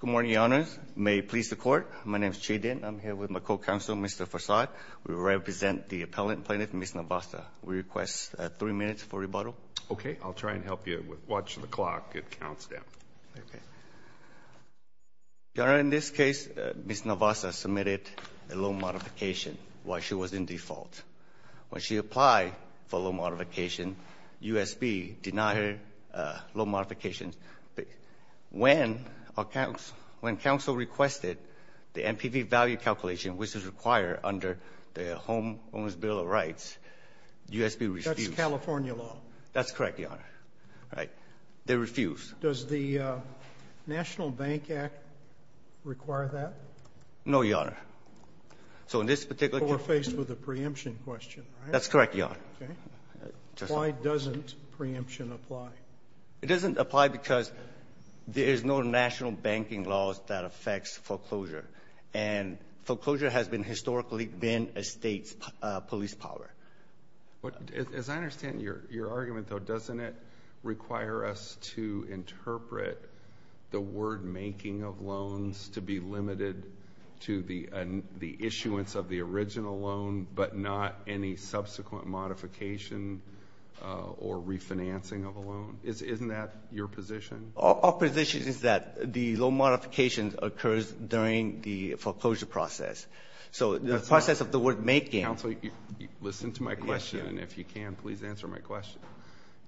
Good morning, Your Honors. May it please the Court, my name is Chi Dinh. I'm here with my co-counsel, Mr. Farsad. We represent the appellant plaintiff, Ms. Narvasa. We request three minutes for rebuttal. Okay, I'll try and help you. Watch the clock. It counts down. Your Honor, in this case, Ms. Narvasa submitted a loan modification while she was in default. When she applied for a loan modification, U.S. B. denied her loan modification. When counsel requested the NPV value calculation, which is required under the Homeowner's Bill of Rights, U.S. B. refused. That's California law. That's correct, Your Honor. They refused. Does the National Bank Act require that? No, Your Honor. So in this particular case... That's correct, Your Honor. Why doesn't preemption apply? It doesn't apply because there's no national banking laws that affects foreclosure, and foreclosure has historically been a state's police power. As I understand your argument, though, doesn't it require us to interpret the word making of loans to be limited to the issuance of the original loan, but not any subsequent modification or refinancing of a loan? Isn't that your position? Our position is that the loan modification occurs during the foreclosure process. So the process of the word making... Counsel, listen to my question, and if you can, please answer my question.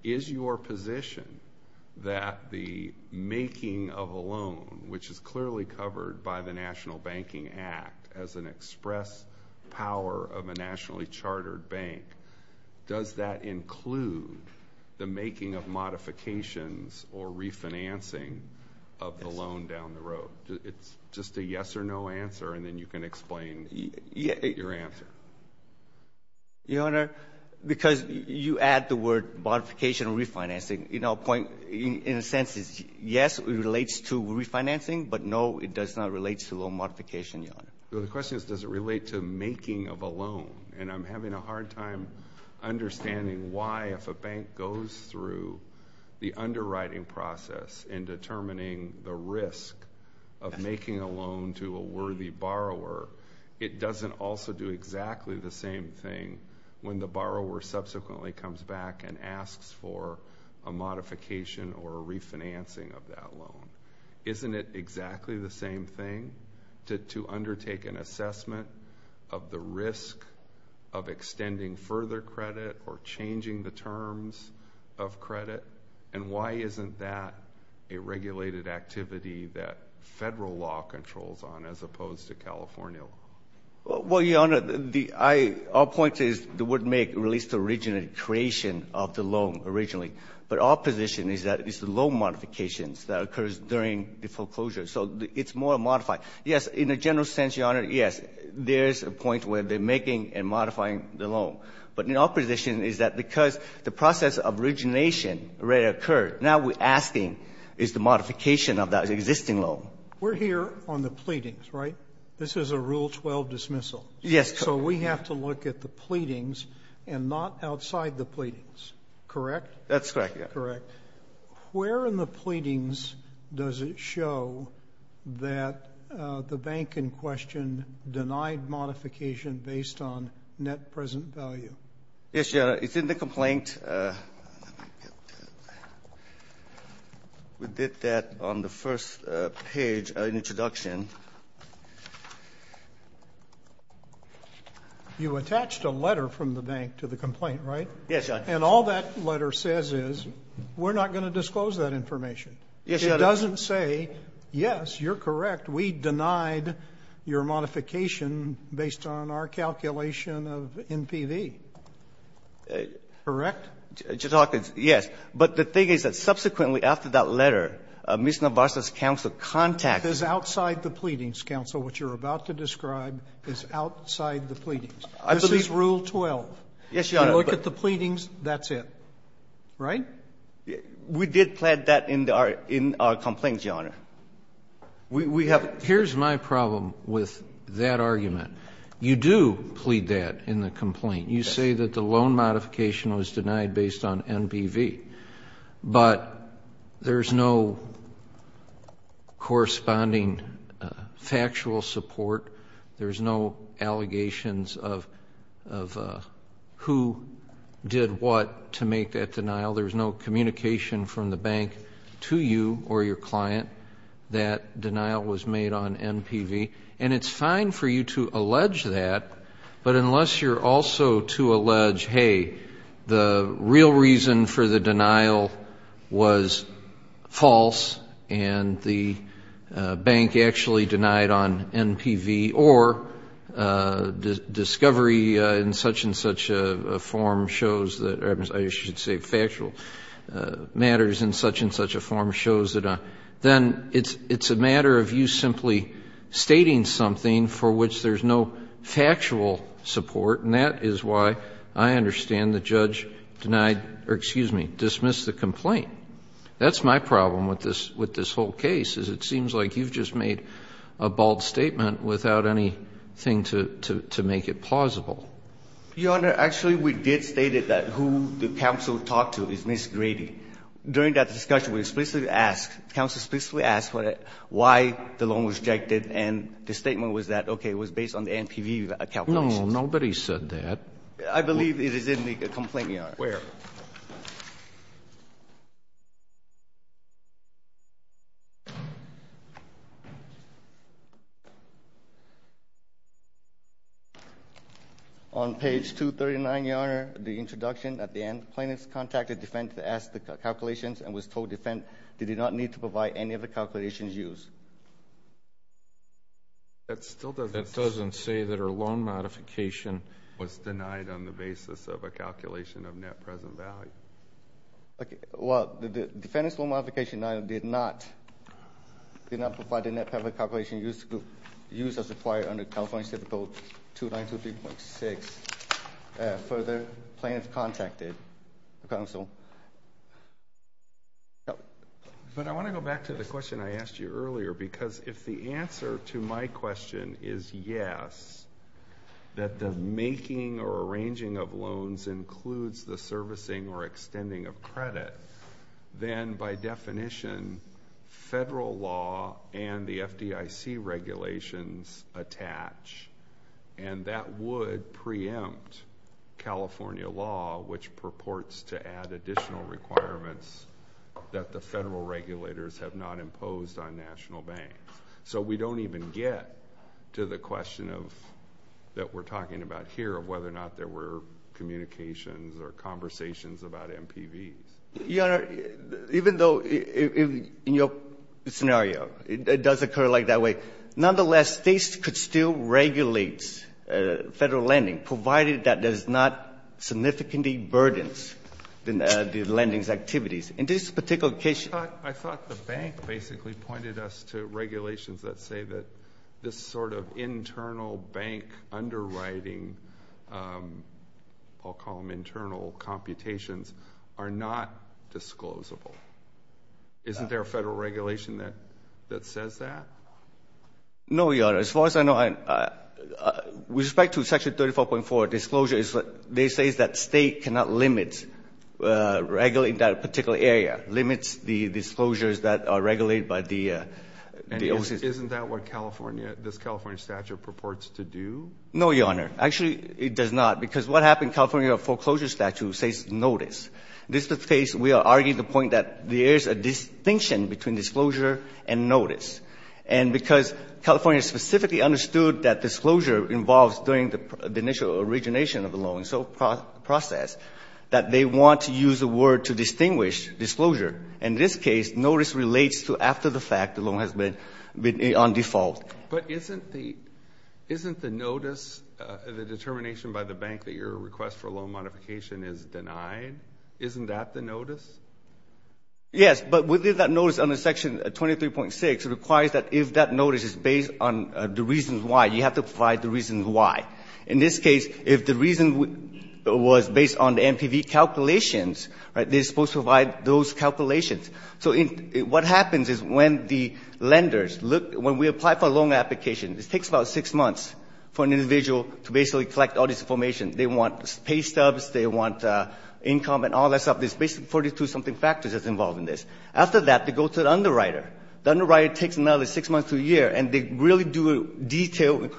Is your position that the making of a loan, which is clearly covered by the National Banking Act as an express power of a nationally chartered bank, does that include the making of modifications or refinancing of the loan down the road? It's just a yes or no answer, and then you can explain your answer. Your Honor, because you add the word modification or refinancing, you know, in a sense it's yes, it relates to refinancing, but no, it does not relate to loan modification, Your Honor. The question is, does it relate to making of a loan? And I'm having a hard time understanding why, if a bank goes through the underwriting process in determining the risk of making a loan to a worthy borrower, it doesn't also do exactly the same thing when the borrower subsequently comes back and asks for a modification or a refinancing of that loan. Isn't it exactly the same thing to undertake an assessment of the risk of extending further credit or changing the terms of credit? And why isn't that a regulated activity that Federal law controls on, as opposed to California law? Well, Your Honor, our point is the word make relates to the original creation of the loan originally, but our position is that it's the loan modifications that occurs during the foreclosure, so it's more modified. Yes, in a general sense, Your Honor, yes, there's a point where they're making and modifying the loan, but our position is that because the process of origination already occurred, now we're asking is the modification of that existing loan. We're here on the pleadings, right? This is a Rule 12 dismissal. Yes, sir. So we have to look at the pleadings and not outside the pleadings, correct? That's correct, Your Honor. Correct. Where in the pleadings does it show that the bank in question denied modification based on net present value? Yes, Your Honor, it's in the complaint. We did that on the first page of the introduction. You attached a letter from the bank to the complaint, right? Yes, Your Honor. And all that letter says is, we're not going to disclose that information. Yes, Your Honor. It doesn't say, yes, you're correct, we denied your modification based on our calculation of NPV, correct? Yes. But the thing is that subsequently after that letter, Ms. Navarza's counsel contacted you. That's outside the pleadings, counsel. What you're about to describe is outside the pleadings. This is Rule 12. Yes, Your Honor. You look at the pleadings, that's it, right? We did play that in our complaint, Your Honor. Here's my problem with that argument. You do plead that in the complaint. You say that the loan modification was denied based on NPV, but there's no corresponding factual support. There's no allegations of who did what to make that denial. There's no communication from the bank to you or your client that denial was made on NPV. And it's fine for you to allege that, but unless you're also to allege, hey, the real reason for the denial was false and the bank actually denied on NPV or discovery in such and such a form shows that, or I should say factual matters in such and such a form shows that, then it's a matter of you simply stating something for which there's no factual support. And that is why I understand the judge denied or, excuse me, dismissed the complaint. That's my problem with this whole case, is it seems like you've just made a bold statement without anything to make it plausible. Martinez-Tamayo, Jr.: Your Honor, actually, we did state that who the counsel talked to is Ms. Grady. During that discussion, we explicitly asked, the counsel explicitly asked why the loan was rejected, and the statement was that, okay, it was based on the NPV calculations. Kennedy, Jr.: No, nobody said that. Martinez-Tamayo, Jr.: I believe it is in the complaint yard. Kennedy, Jr.: Where? Martinez-Tamayo, Jr.: On page 239, Your Honor, the introduction at the end, plaintiff contacted defense to ask the calculations and was told defense did not need to provide any of the Judge Goldberg, Jr.: That still doesn't say that her loan modification was denied on the grounds that it doesn't value. Martinez-Tamayo, Jr.: Okay, well, the defense loan modification did not provide the net public calculation used as required under California State Code 2923.6. Further, plaintiff contacted the counsel. Judge Goldberg, Jr.: But I want to go back to the question I asked you earlier, because if the answer to my question is yes, that the making or arranging of loans includes the servicing or extending of credit, then by definition, federal law and the FDIC regulations attach, and that would preempt California law, which purports to add additional requirements that the federal regulators have not imposed on national banks. So we don't even get to the question of, that we're talking about here, of whether or not there were communications or conversations about MPVs. Martinez-Tamayo, Jr.: Your Honor, even though in your scenario, it does occur like that way, nonetheless, states could still regulate federal lending, provided that there's not significant burdens in the lending's activities. In this particular case, Judge Goldberg, Jr.: I thought the bank basically pointed us to regulations that say that this sort of internal bank underwriting, I'll call them internal computations, are not disclosable. Isn't there a federal regulation that says that? Martinez-Tamayo, Jr.: No, Your Honor. As far as I know, with respect to Section 34.4, disclosure is what they say is that state cannot limit, regulate that particular area, limits the disclosures that are regulated by the OCS. Alito, Jr.: Isn't that what California, this California statute purports to do? Martinez-Tamayo, Jr.: No, Your Honor. Actually, it does not. Because what happened, California foreclosure statute says notice. This is the case, we are arguing the point that there is a distinction between disclosure and notice. And because California specifically understood that disclosure involves doing the initial origination of the loan, so process, that they want to use a word to distinguish disclosure. In this case, notice relates to after the fact, the loan has been disclosed. Alito, Jr.: But isn't the notice, the determination by the bank that your request for loan modification is denied, isn't that the notice? Martinez-Tamayo, Jr.: Yes, but within that notice under Section 23.6, it requires that if that notice is based on the reasons why, you have to provide the reasons why. In this case, if the reason was based on the NPV calculations, they are supposed to provide those calculations. So what happens is when the lenders look, when we apply for a loan application, it takes about six months for an individual to basically collect all this information. They want pay stubs, they want income and all that stuff. There's basically 42-something factors that's involved in this. After that, they go to the underwriter. The underwriter takes another six months to a year, and they really do detailed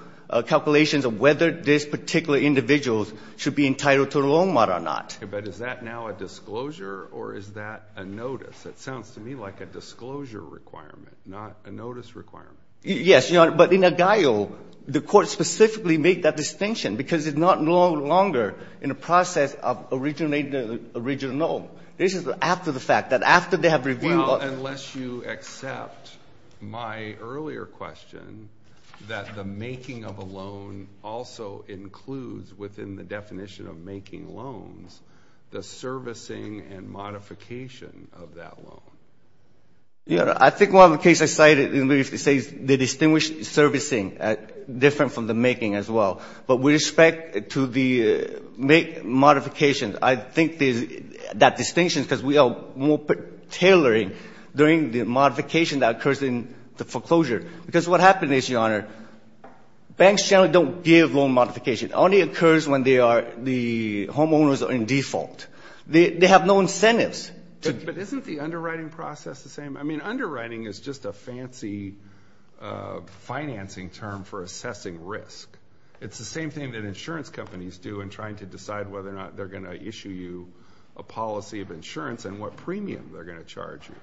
calculations of whether this particular individual should be entitled to a loan mod or not. Alito, Jr.: Okay, but is that now a disclosure or is that a notice? It sounds to me like a disclosure requirement, not a notice requirement. Martinez-Tamayo, Jr.: Yes, Your Honor, but in Agaio, the court specifically made that distinction because it's no longer in the process of originating the original loan. This is after the fact, that after they have reviewed the loan. Alito, Jr.: Well, unless you accept my earlier question that the making of a loan also includes within the definition of making loans, the servicing and modification of that loan. Martinez-Tamayo, Jr.: Yes, Your Honor, I think one of the cases I cited, it says they distinguish servicing different from the making as well. But with respect to the make modification, I think that distinction is because we are more tailoring during the modification that occurs in the foreclosure. Because what happens is, Your Honor, banks generally don't give loan modification. It only occurs when the homeowners are in default. They have no incentives. Alito, Jr.: But isn't the underwriting process the same? I mean, underwriting is just a fancy financing term for assessing risk. It's the same thing that insurance companies do in trying to decide whether or not they're going to issue you a policy of insurance and what premium they're going to charge you.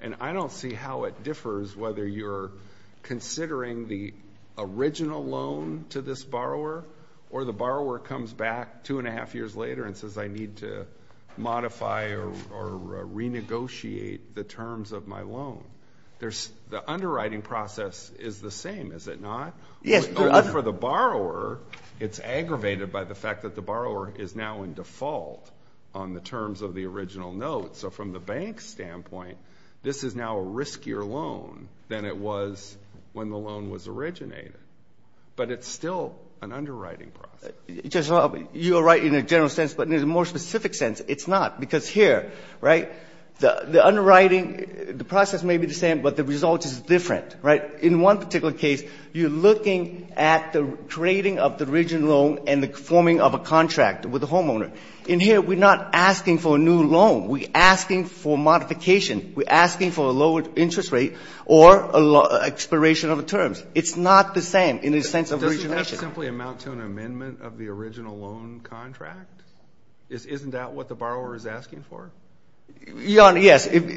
And I don't see how it differs whether you're considering the original loan to this borrower or the borrower comes back two and a half years later and says, I need to modify or renegotiate the terms of my loan. The underwriting process is the same, is it not? Martinez-Tamayo, Jr.: Yes, Your Honor. Alito, Jr.: Or for the borrower, it's aggravated by the fact that the borrower is now in default on the terms of the original note. So from the bank's standpoint, this is now a riskier loan than it was when the loan was originated. But it's still an underwriting process. Martinez-Tamayo, Jr.: You're right in a general sense, but in a more specific sense, it's not. Because here, right, the underwriting, the process may be the same, but the result is different, right? In one particular case, you're looking at the creating of the original loan and the forming of a contract with the homeowner. In here, we're not asking for a expiration of the terms. It's not the same in the sense of origination. Alito, Jr.: But doesn't that simply amount to an amendment of the original loan contract? Isn't that what the borrower is asking for? Martinez-Tamayo, Jr.: Your Honor, yes. It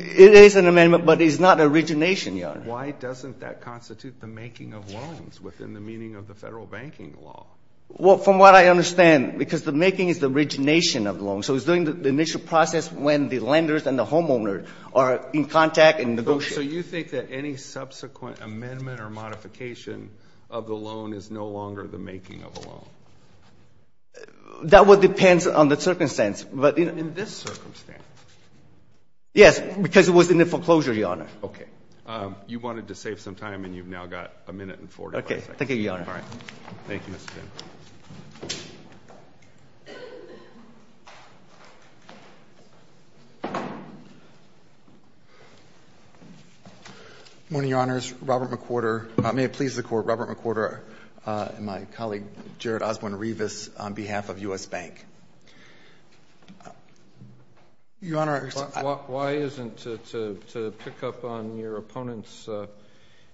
is an amendment, but it's not origination, Your Honor. Alito, Jr.: Why doesn't that constitute the making of loans within the meaning of the federal banking law? Martinez-Tamayo, Jr.: Well, from what I understand, because the making is the origination of loans. So it's doing the initial process when the lenders and the homeowner are in contact and Alito, Jr.: So you think that any subsequent amendment or modification of the loan is no longer the making of a loan? Martinez-Tamayo, Jr.: That would depend on the circumstance, but in— Alito, Jr.: In this circumstance? Martinez-Tamayo, Jr.: Yes, because it was in the foreclosure, Your Honor. Alito, Jr.: Okay. You wanted to save some time, and you've now got a minute and 45 seconds. Martinez-Tamayo, Jr.: Okay. Thank you, Your Honor. Alito, Jr.: All right. Thank you, Mr. Pin. Robert McWhorter, Jr.: Good morning, Your Honors. Robert McWhorter—may it please the Court—Robert McWhorter and my colleague, Jared Osborne-Rivas, on behalf of U.S. Bank. McWhorter, Jr.: Why isn't—to pick up on your opponent's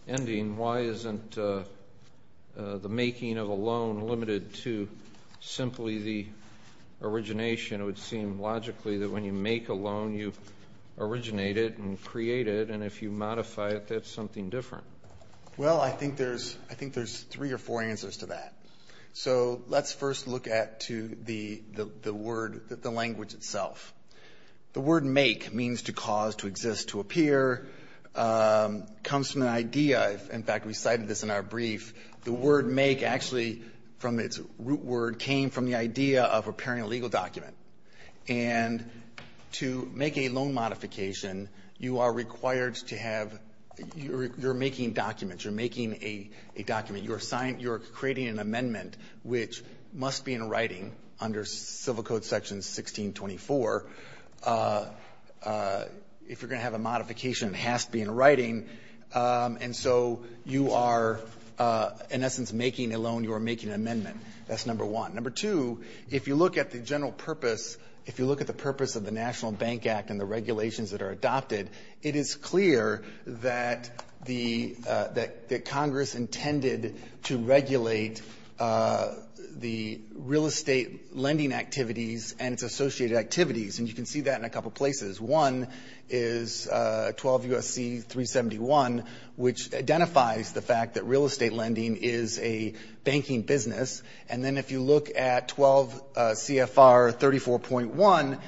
ending, why isn't the making of a loan limited to simply the origination? It would seem logically that when you make a loan, you originate it and create it, and if you modify it, that's something different. McWhorter, Jr.: Well, I think there's—I think there's three or four answers to that. So let's first look at to the word—the language itself. The word make means to cause, to exist, to appear, comes from an idea. In fact, we cited this in our brief. The word make actually, from its root word, came from the idea of repairing a legal document. And to make a loan modification, you are required to have—you're making documents. You're making a document. You're creating an amendment, which must be in writing under Civil Code Section 1624. If you're going to have a modification, it has to be in writing. And so you are, in making a loan, you are making an amendment. That's number one. Number two, if you look at the general purpose, if you look at the purpose of the National Bank Act and the regulations that are adopted, it is clear that the—that Congress intended to regulate the real estate lending activities and its associated activities, and you can see that in a couple places. One is 12 U.S.C. 371, which identifies the fact that real estate lending is a banking business. And then if you look at 12 CFR 34.1,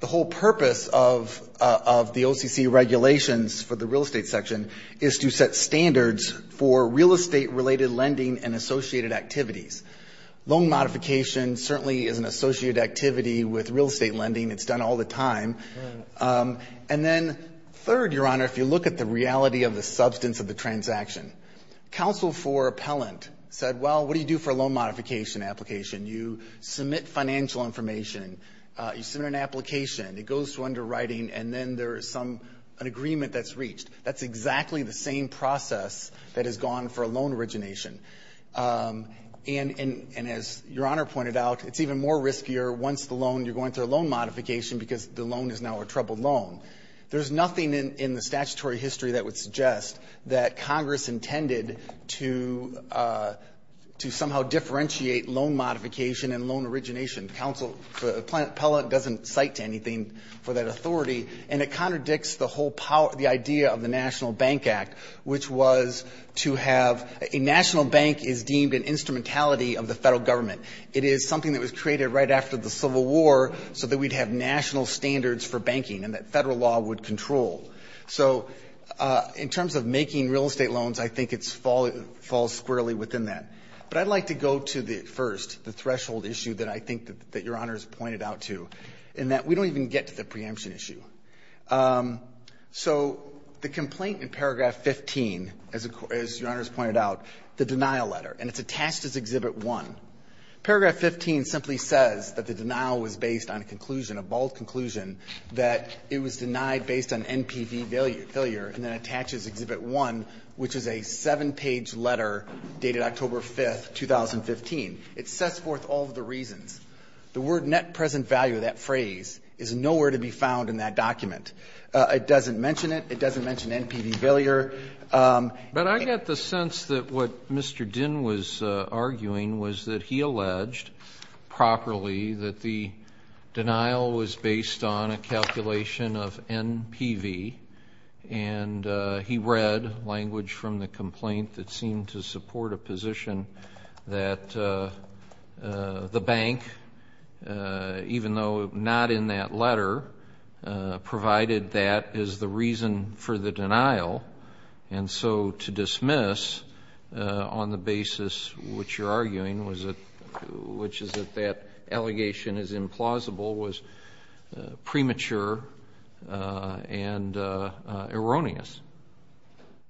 the whole purpose of the OCC regulations for the real estate section is to set standards for real estate-related lending and associated activities. Loan modification certainly is an associated activity with real estate lending. It's done all the time. And then third, Your Honor, if you look at the reality of the substance of the transaction, counsel for appellant said, well, what do you do for a loan modification application? You submit financial information. You submit an application. It goes to underwriting, and then there is some—an agreement that's reached. That's exactly the same process that has gone for a loan origination. And as Your Honor pointed out, it's even more riskier once the loan—you're going through a loan modification because the loan is now a troubled loan. There's nothing in the statutory history that would suggest that Congress intended to somehow differentiate loan modification and loan origination. Counsel for appellant doesn't cite anything for that authority. And it contradicts the whole power—the idea of the National Bank Act, which was to have—a national bank is deemed an instrumentality of the federal government. It is something that was created right after the Civil War so that we'd have national standards for banking and that federal law would control. So in terms of making real estate loans, I think it falls squarely within that. But I'd like to go to the first, the threshold issue that I think that Your Honor has pointed out to, in that we don't even get to the preemption issue. So the complaint in paragraph 15, as Your Honor has pointed out, the denial letter, and it's attached as Exhibit 1. Paragraph 15 simply says that the denial was based on a conclusion, a bald conclusion, that it was denied based on NPV failure, and then attaches Exhibit 1, which is a seven-page letter dated October 5, 2015. It sets forth all of the reasons. The word, net present value, that phrase, is nowhere to be found in that document. It doesn't mention it. It doesn't mention NPV failure. But I get the sense that what Mr. Dinn was arguing was that he alleged properly that the denial was based on a calculation of NPV, and he read language from the complaint that seemed to support a position that the bank, even though not in that letter, provided that is the reason for the denial, and so to dismiss on the basis which you're arguing, which is that that allegation is implausible, was premature and erroneous.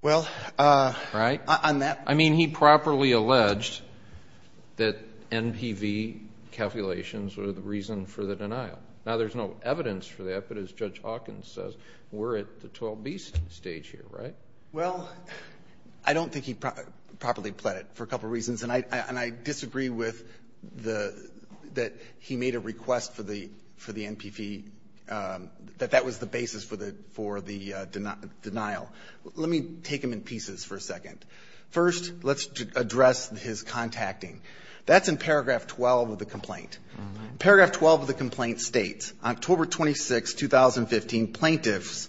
Well, on that point... I mean, he properly alleged that NPV calculations were the reason for the denial. Now, there's no evidence for that, but as Judge Hawkins says, we're at the 12B stage here, right? Well, I don't think he properly pled it for a couple of reasons, and I disagree with that he made a request for the NPV, that that was the basis for the denial. Let me take him in pieces for a second. First, let's address his contacting. That's in paragraph 12 of the complaint. Paragraph 12 of the complaint states, October 26, 2015, plaintiffs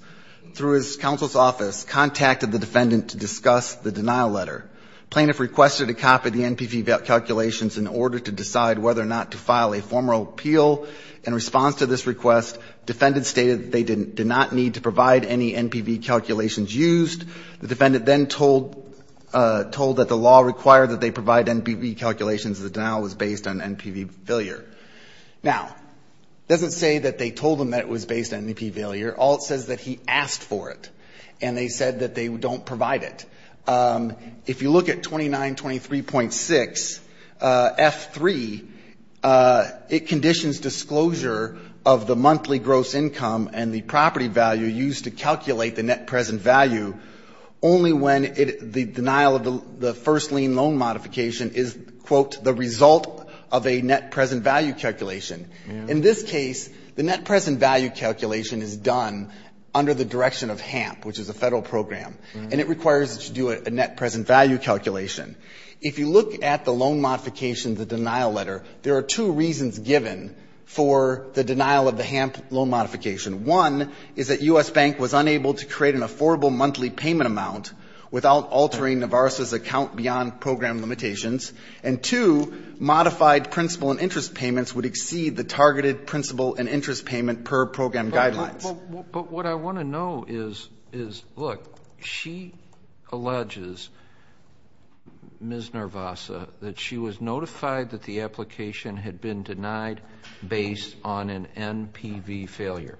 through his counsel's office contacted the defendant to discuss the denial letter. Plaintiff requested a copy of the NPV calculations in order to decide whether or not to file a formal appeal. In response to this request, defendant stated that they did not need to provide any NPV calculations used. The defendant then told that the law required that they provide NPV calculations, the denial was based on NPV failure. Now, it doesn't say that they told him that it was based on NPV failure. All it says is that he asked for it, and they said that they don't provide it. If you look at 2923.6F3, it conditions disclosure of the monthly gross income and the property value used to calculate the net present value only when the denial of the first lien loan modification is, quote, the result of a net present value calculation. In this case, the net present value calculation is done under the direction of HAMP, which is a Federal program, and it requires that you do a net present value calculation. If you look at the loan modification, the denial letter, there are two reasons given for the denial of the HAMP loan modification. One is that U.S. Bank was unable to create an affordable monthly payment amount without altering Navarro's account beyond program limitations, and two, modified principal and interest payments would exceed the targeted principal and interest payment per program guidelines. But what I want to know is, look, she alleges, Ms. Narvasa, that she was notified that the application had been denied based on an NPV failure.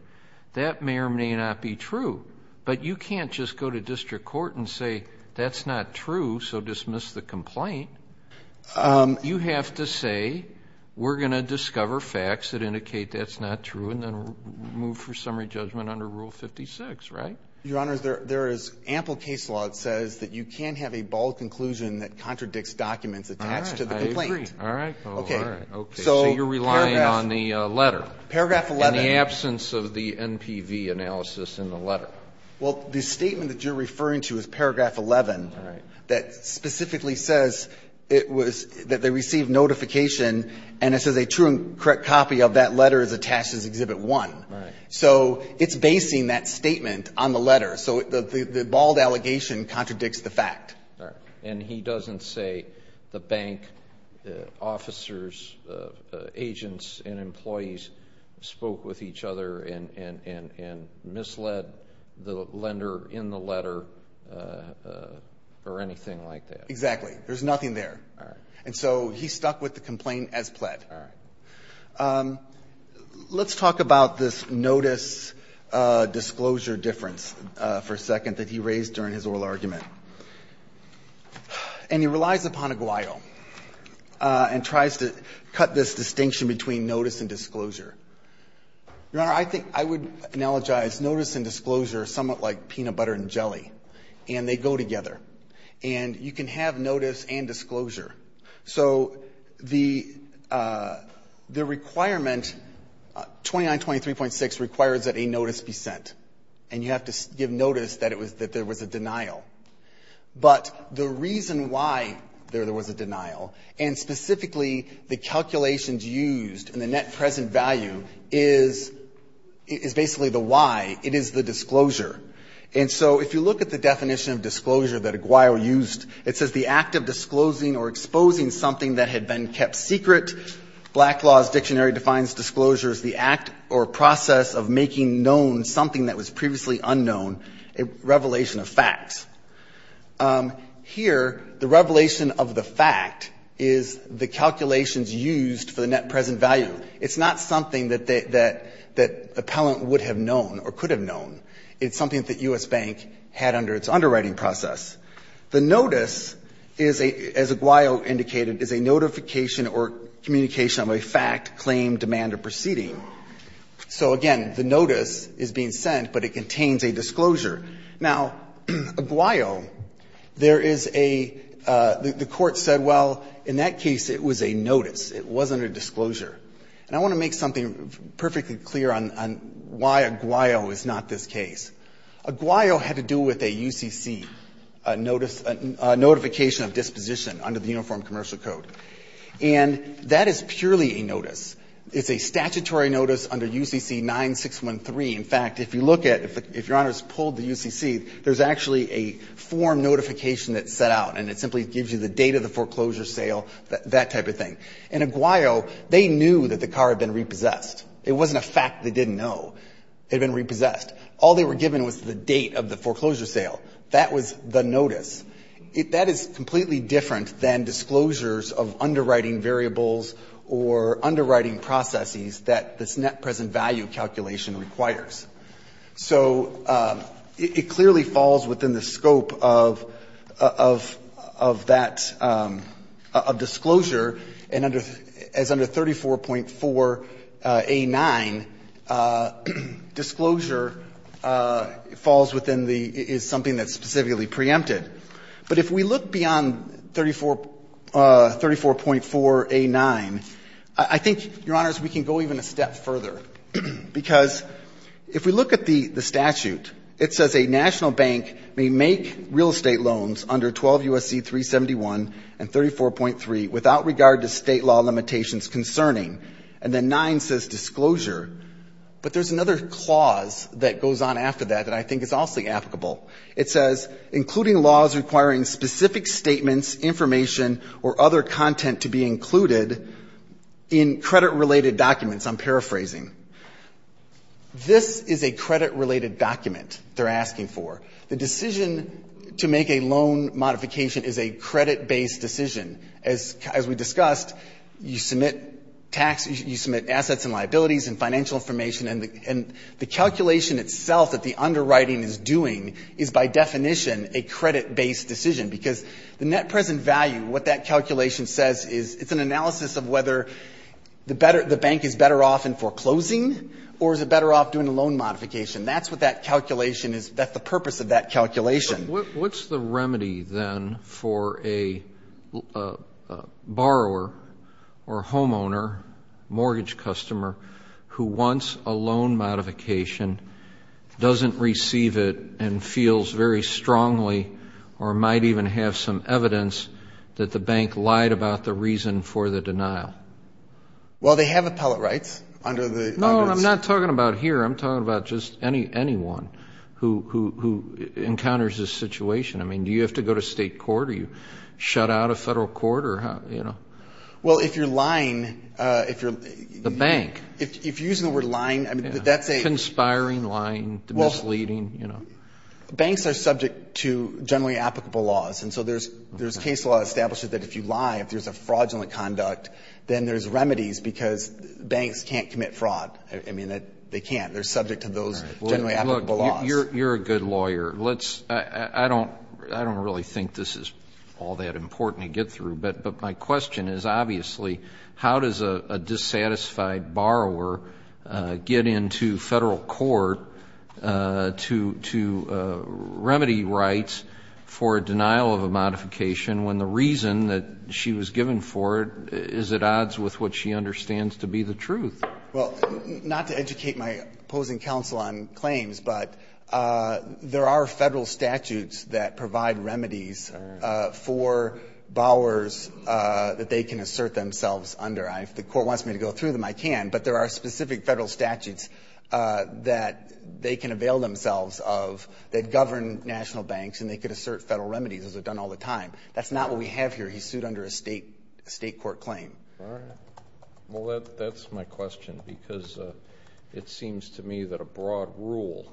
That may or may not be true, but you can't just go to district court and say, that's not true, so dismiss the complaint. You have to say, we're going to discover facts that indicate that's not true and then move for summary judgment under Rule 56, right? Your Honors, there is ample case law that says that you can't have a bold conclusion that contradicts documents attached to the complaint. All right. I agree. All right. Okay. Okay. So you're relying on the letter. Paragraph 11. In the absence of the NPV analysis in the letter. Well, the statement that you're referring to is Paragraph 11 that specifically says that they received notification, and it says a true and correct copy of that letter is attached as Exhibit 1. So it's basing that statement on the letter. So the bold allegation contradicts the fact. And he doesn't say the bank officers, agents, and employees spoke with each other and misled the lender in the letter or anything like that. Exactly. There's nothing there. All right. And so he's stuck with the complaint as pled. All right. Let's talk about this notice-disclosure difference for a second that he raised during his oral argument. And he relies upon Aguayo and tries to cut this distinction between notice and disclosure. Your Honor, I think I would analogize notice and disclosure somewhat like peanut butter and jelly, and they go together. And you can have notice and disclosure. So the requirement, 2923.6, requires that a notice be sent. And you have to give notice that there was a denial. But the reason why there was a denial, and specifically the calculations used and the net present value, is basically the why. It is the disclosure. And so if you look at the definition of disclosure that Aguayo used, it says the act of disclosing or exposing something that had been kept secret. Black Law's Dictionary defines disclosure as the act or process of making known something that was previously unknown, a revelation of facts. Here, the revelation of the fact is the calculations used for the net present value. It's not something that the appellant would have known or could have known. It's something that U.S. Bank had under its underwriting process. The notice is, as Aguayo indicated, is a notification or communication of a fact, claim, demand, or proceeding. So, again, the notice is being sent, but it contains a disclosure. Now, Aguayo, there is a – the Court said, well, in that case, it was a notice. It wasn't a disclosure. And I want to make something perfectly clear on why Aguayo is not this case. Aguayo had to do with a UCC notice, a notification of disposition under the Uniform Commercial Code. And that is purely a notice. It's a statutory notice under UCC-9613. In fact, if you look at – if Your Honors pulled the UCC, there's actually a form notification that's set out, and it simply gives you the date of the foreclosure sale, that type of thing. In Aguayo, they knew that the car had been repossessed. It wasn't a fact they didn't know it had been repossessed. All they were given was the date of the foreclosure sale. That was the notice. That is completely different than disclosures of underwriting variables or underwriting processes that this net present value calculation requires. So it clearly falls within the scope of that – of disclosure as under 34.4a)(9, disclosure falls within the – is something that's specifically preempted. But if we look beyond 34 – 34.4a)(9, I think, Your Honors, we can go even a step further, because if we look at the statute, it says a national bank may make real estate loans under 12 U.S.C. 371 and 34.3 without regard to State law limitations concerning, and then 9 says disclosure. But there's another clause that goes on after that that I think is also applicable. It says, including laws requiring specific statements, information, or other content to be included in credit-related documents. I'm paraphrasing. This is a credit-related document they're asking for. The decision to make a loan modification is a credit-based decision. As we discussed, you submit tax – you submit assets and liabilities and financial information, and the calculation itself that the underwriting is doing is, by definition, a credit-based decision, because the net present value, what that calculation says is it's an analysis of whether the better – the bank is better off in foreclosing or is it better off doing a loan modification. That's what that calculation is – that's the purpose of that calculation. What's the remedy, then, for a borrower or a homeowner, mortgage customer, who wants a loan modification, doesn't receive it, and feels very strongly or might even have some evidence that the bank lied about the reason for the denial? Well, they have appellate rights under the – No, I'm not talking about here. I'm talking about just anyone who encounters this situation. I mean, do you have to go to state court or you shut out of federal court or how – you know? Well, if you're lying, if you're – The bank. If you're using the word lying, I mean, that's a – Conspiring, lying, misleading, you know. Banks are subject to generally applicable laws, and so there's case law that establishes that if you lie, if there's a fraudulent conduct, then there's remedies because banks can't commit fraud. I mean, they can't. They're subject to those generally applicable laws. Well, look. You're a good lawyer. Let's – I don't really think this is all that important to get through, but my question is, obviously, how does a dissatisfied borrower get into federal court to remedy rights for a denial of a modification when the reason that she was given for it is at odds with what she understands to be the truth? Well, not to educate my opposing counsel on claims, but there are federal statutes that provide remedies for borrowers that they can assert themselves under. If the court wants me to go through them, I can, but there are specific federal statutes that they can avail themselves of that govern national banks, and they could assert federal remedies, as they've done all the time. That's not what we have here. He's sued under a state court claim. All right. Well, that's my question, because it seems to me that a broad rule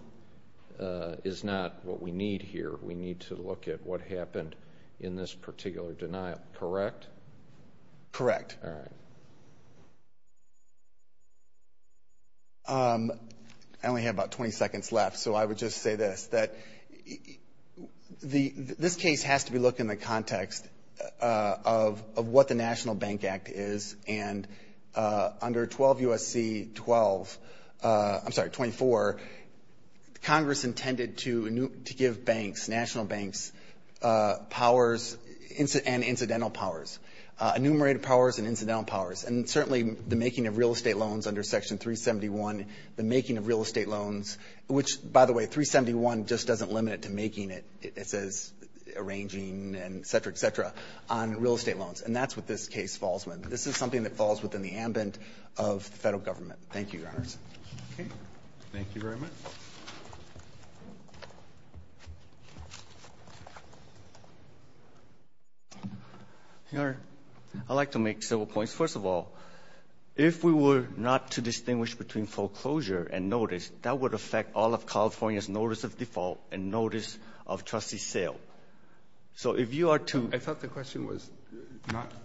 is not what we need here. We need to look at what happened in this particular denial. Correct? Correct. All right. I only have about 20 seconds left, so I would just say this, that this case has to be looked in the context of what the National Bank Act is, and under 12 U.S.C. 12, I'm sorry, 24, Congress intended to give banks, national banks, powers and incidental powers, enumerated powers and incidental powers, and certainly the making of real estate loans under Section 371, the making of real estate loans, which, by the way, 371 just doesn't limit it to making it, it says arranging and et cetera, et cetera, on real estate loans, and that's what this case falls within. This is something that falls within the ambit of the federal government. Thank you, Your Honors. Okay. Thank you very much. Your Honor, I'd like to make several points. First of all, if we were not to distinguish between foreclosure and notice, that would affect all of California's notice of default and notice of trustee sale. So if you are to— I thought the question was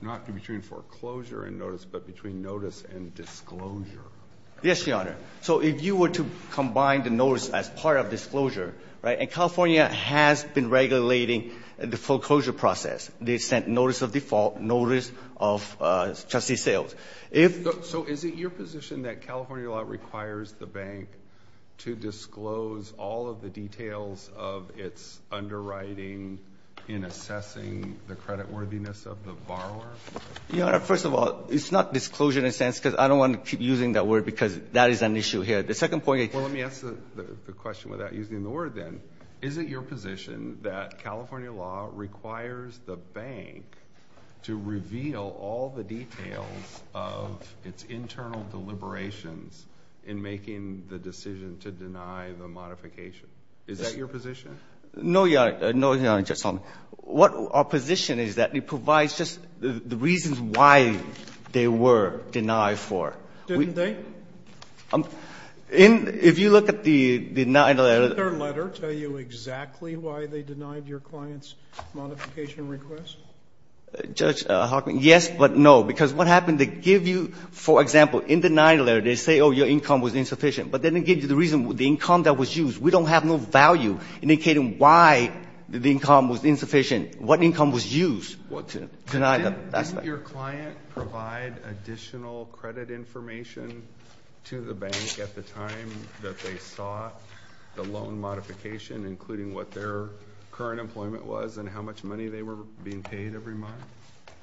not between foreclosure and notice, but between notice and disclosure. Yes, Your Honor. So if you were to combine the notice as part of disclosure, right, and California has been regulating the foreclosure process, they sent notice of default, notice of trustee sales. So is it your position that California law requires the bank to disclose all of the details of its underwriting in assessing the creditworthiness of the borrower? Your Honor, first of all, it's not disclosure in a sense because I don't want to keep using that word because that is an issue here. The second point— Well, let me ask the question without using the word then. Is it your position that California law requires the bank to reveal all the details of its internal deliberations in making the decision to deny the modification? Is that your position? No, Your Honor. No, Your Honor. Just tell me. What our position is that it provides just the reasons why they were denied for. Didn't they? If you look at the denied letter— Do you know exactly why they denied your client's modification request? Judge Hockman, yes, but no, because what happened, they give you, for example, in the denied letter, they say, oh, your income was insufficient, but then they give you the reason, the income that was used. We don't have no value indicating why the income was insufficient, what income was used to deny the— Didn't your client provide additional credit information to the bank at the time that they sought the loan modification, including what their current employment was and how much money they were being paid every month?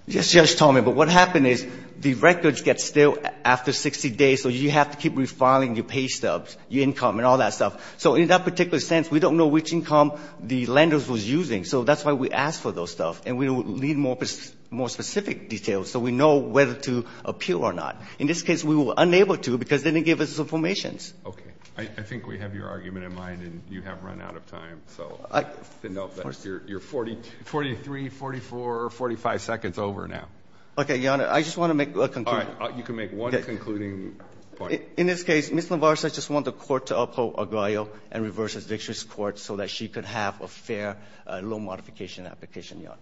Yes, yes, Tommy, but what happened is the records get still after 60 days, so you have to keep refiling your pay stubs, your income and all that stuff. So in that particular sense, we don't know which income the lender was using. So that's why we ask for those stuff, and we need more specific details so we know whether to appeal or not. In this case, we were unable to because they didn't give us the information. Okay. I think we have your argument in mind, and you have run out of time, so you're 43, 44, 45 seconds over now. Okay, Your Honor. I just want to make a conclusion. All right. You can make one concluding point. In this case, Ms. LaVarza just want the court to uphold Aguayo and reverse its victories court so that she could have a fair loan modification application, Your Honor.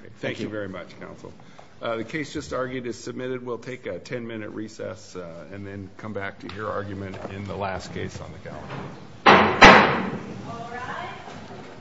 Okay. Thank you very much, counsel. The case just argued is submitted. We'll take a 10-minute recess and then come back to your argument in the last case on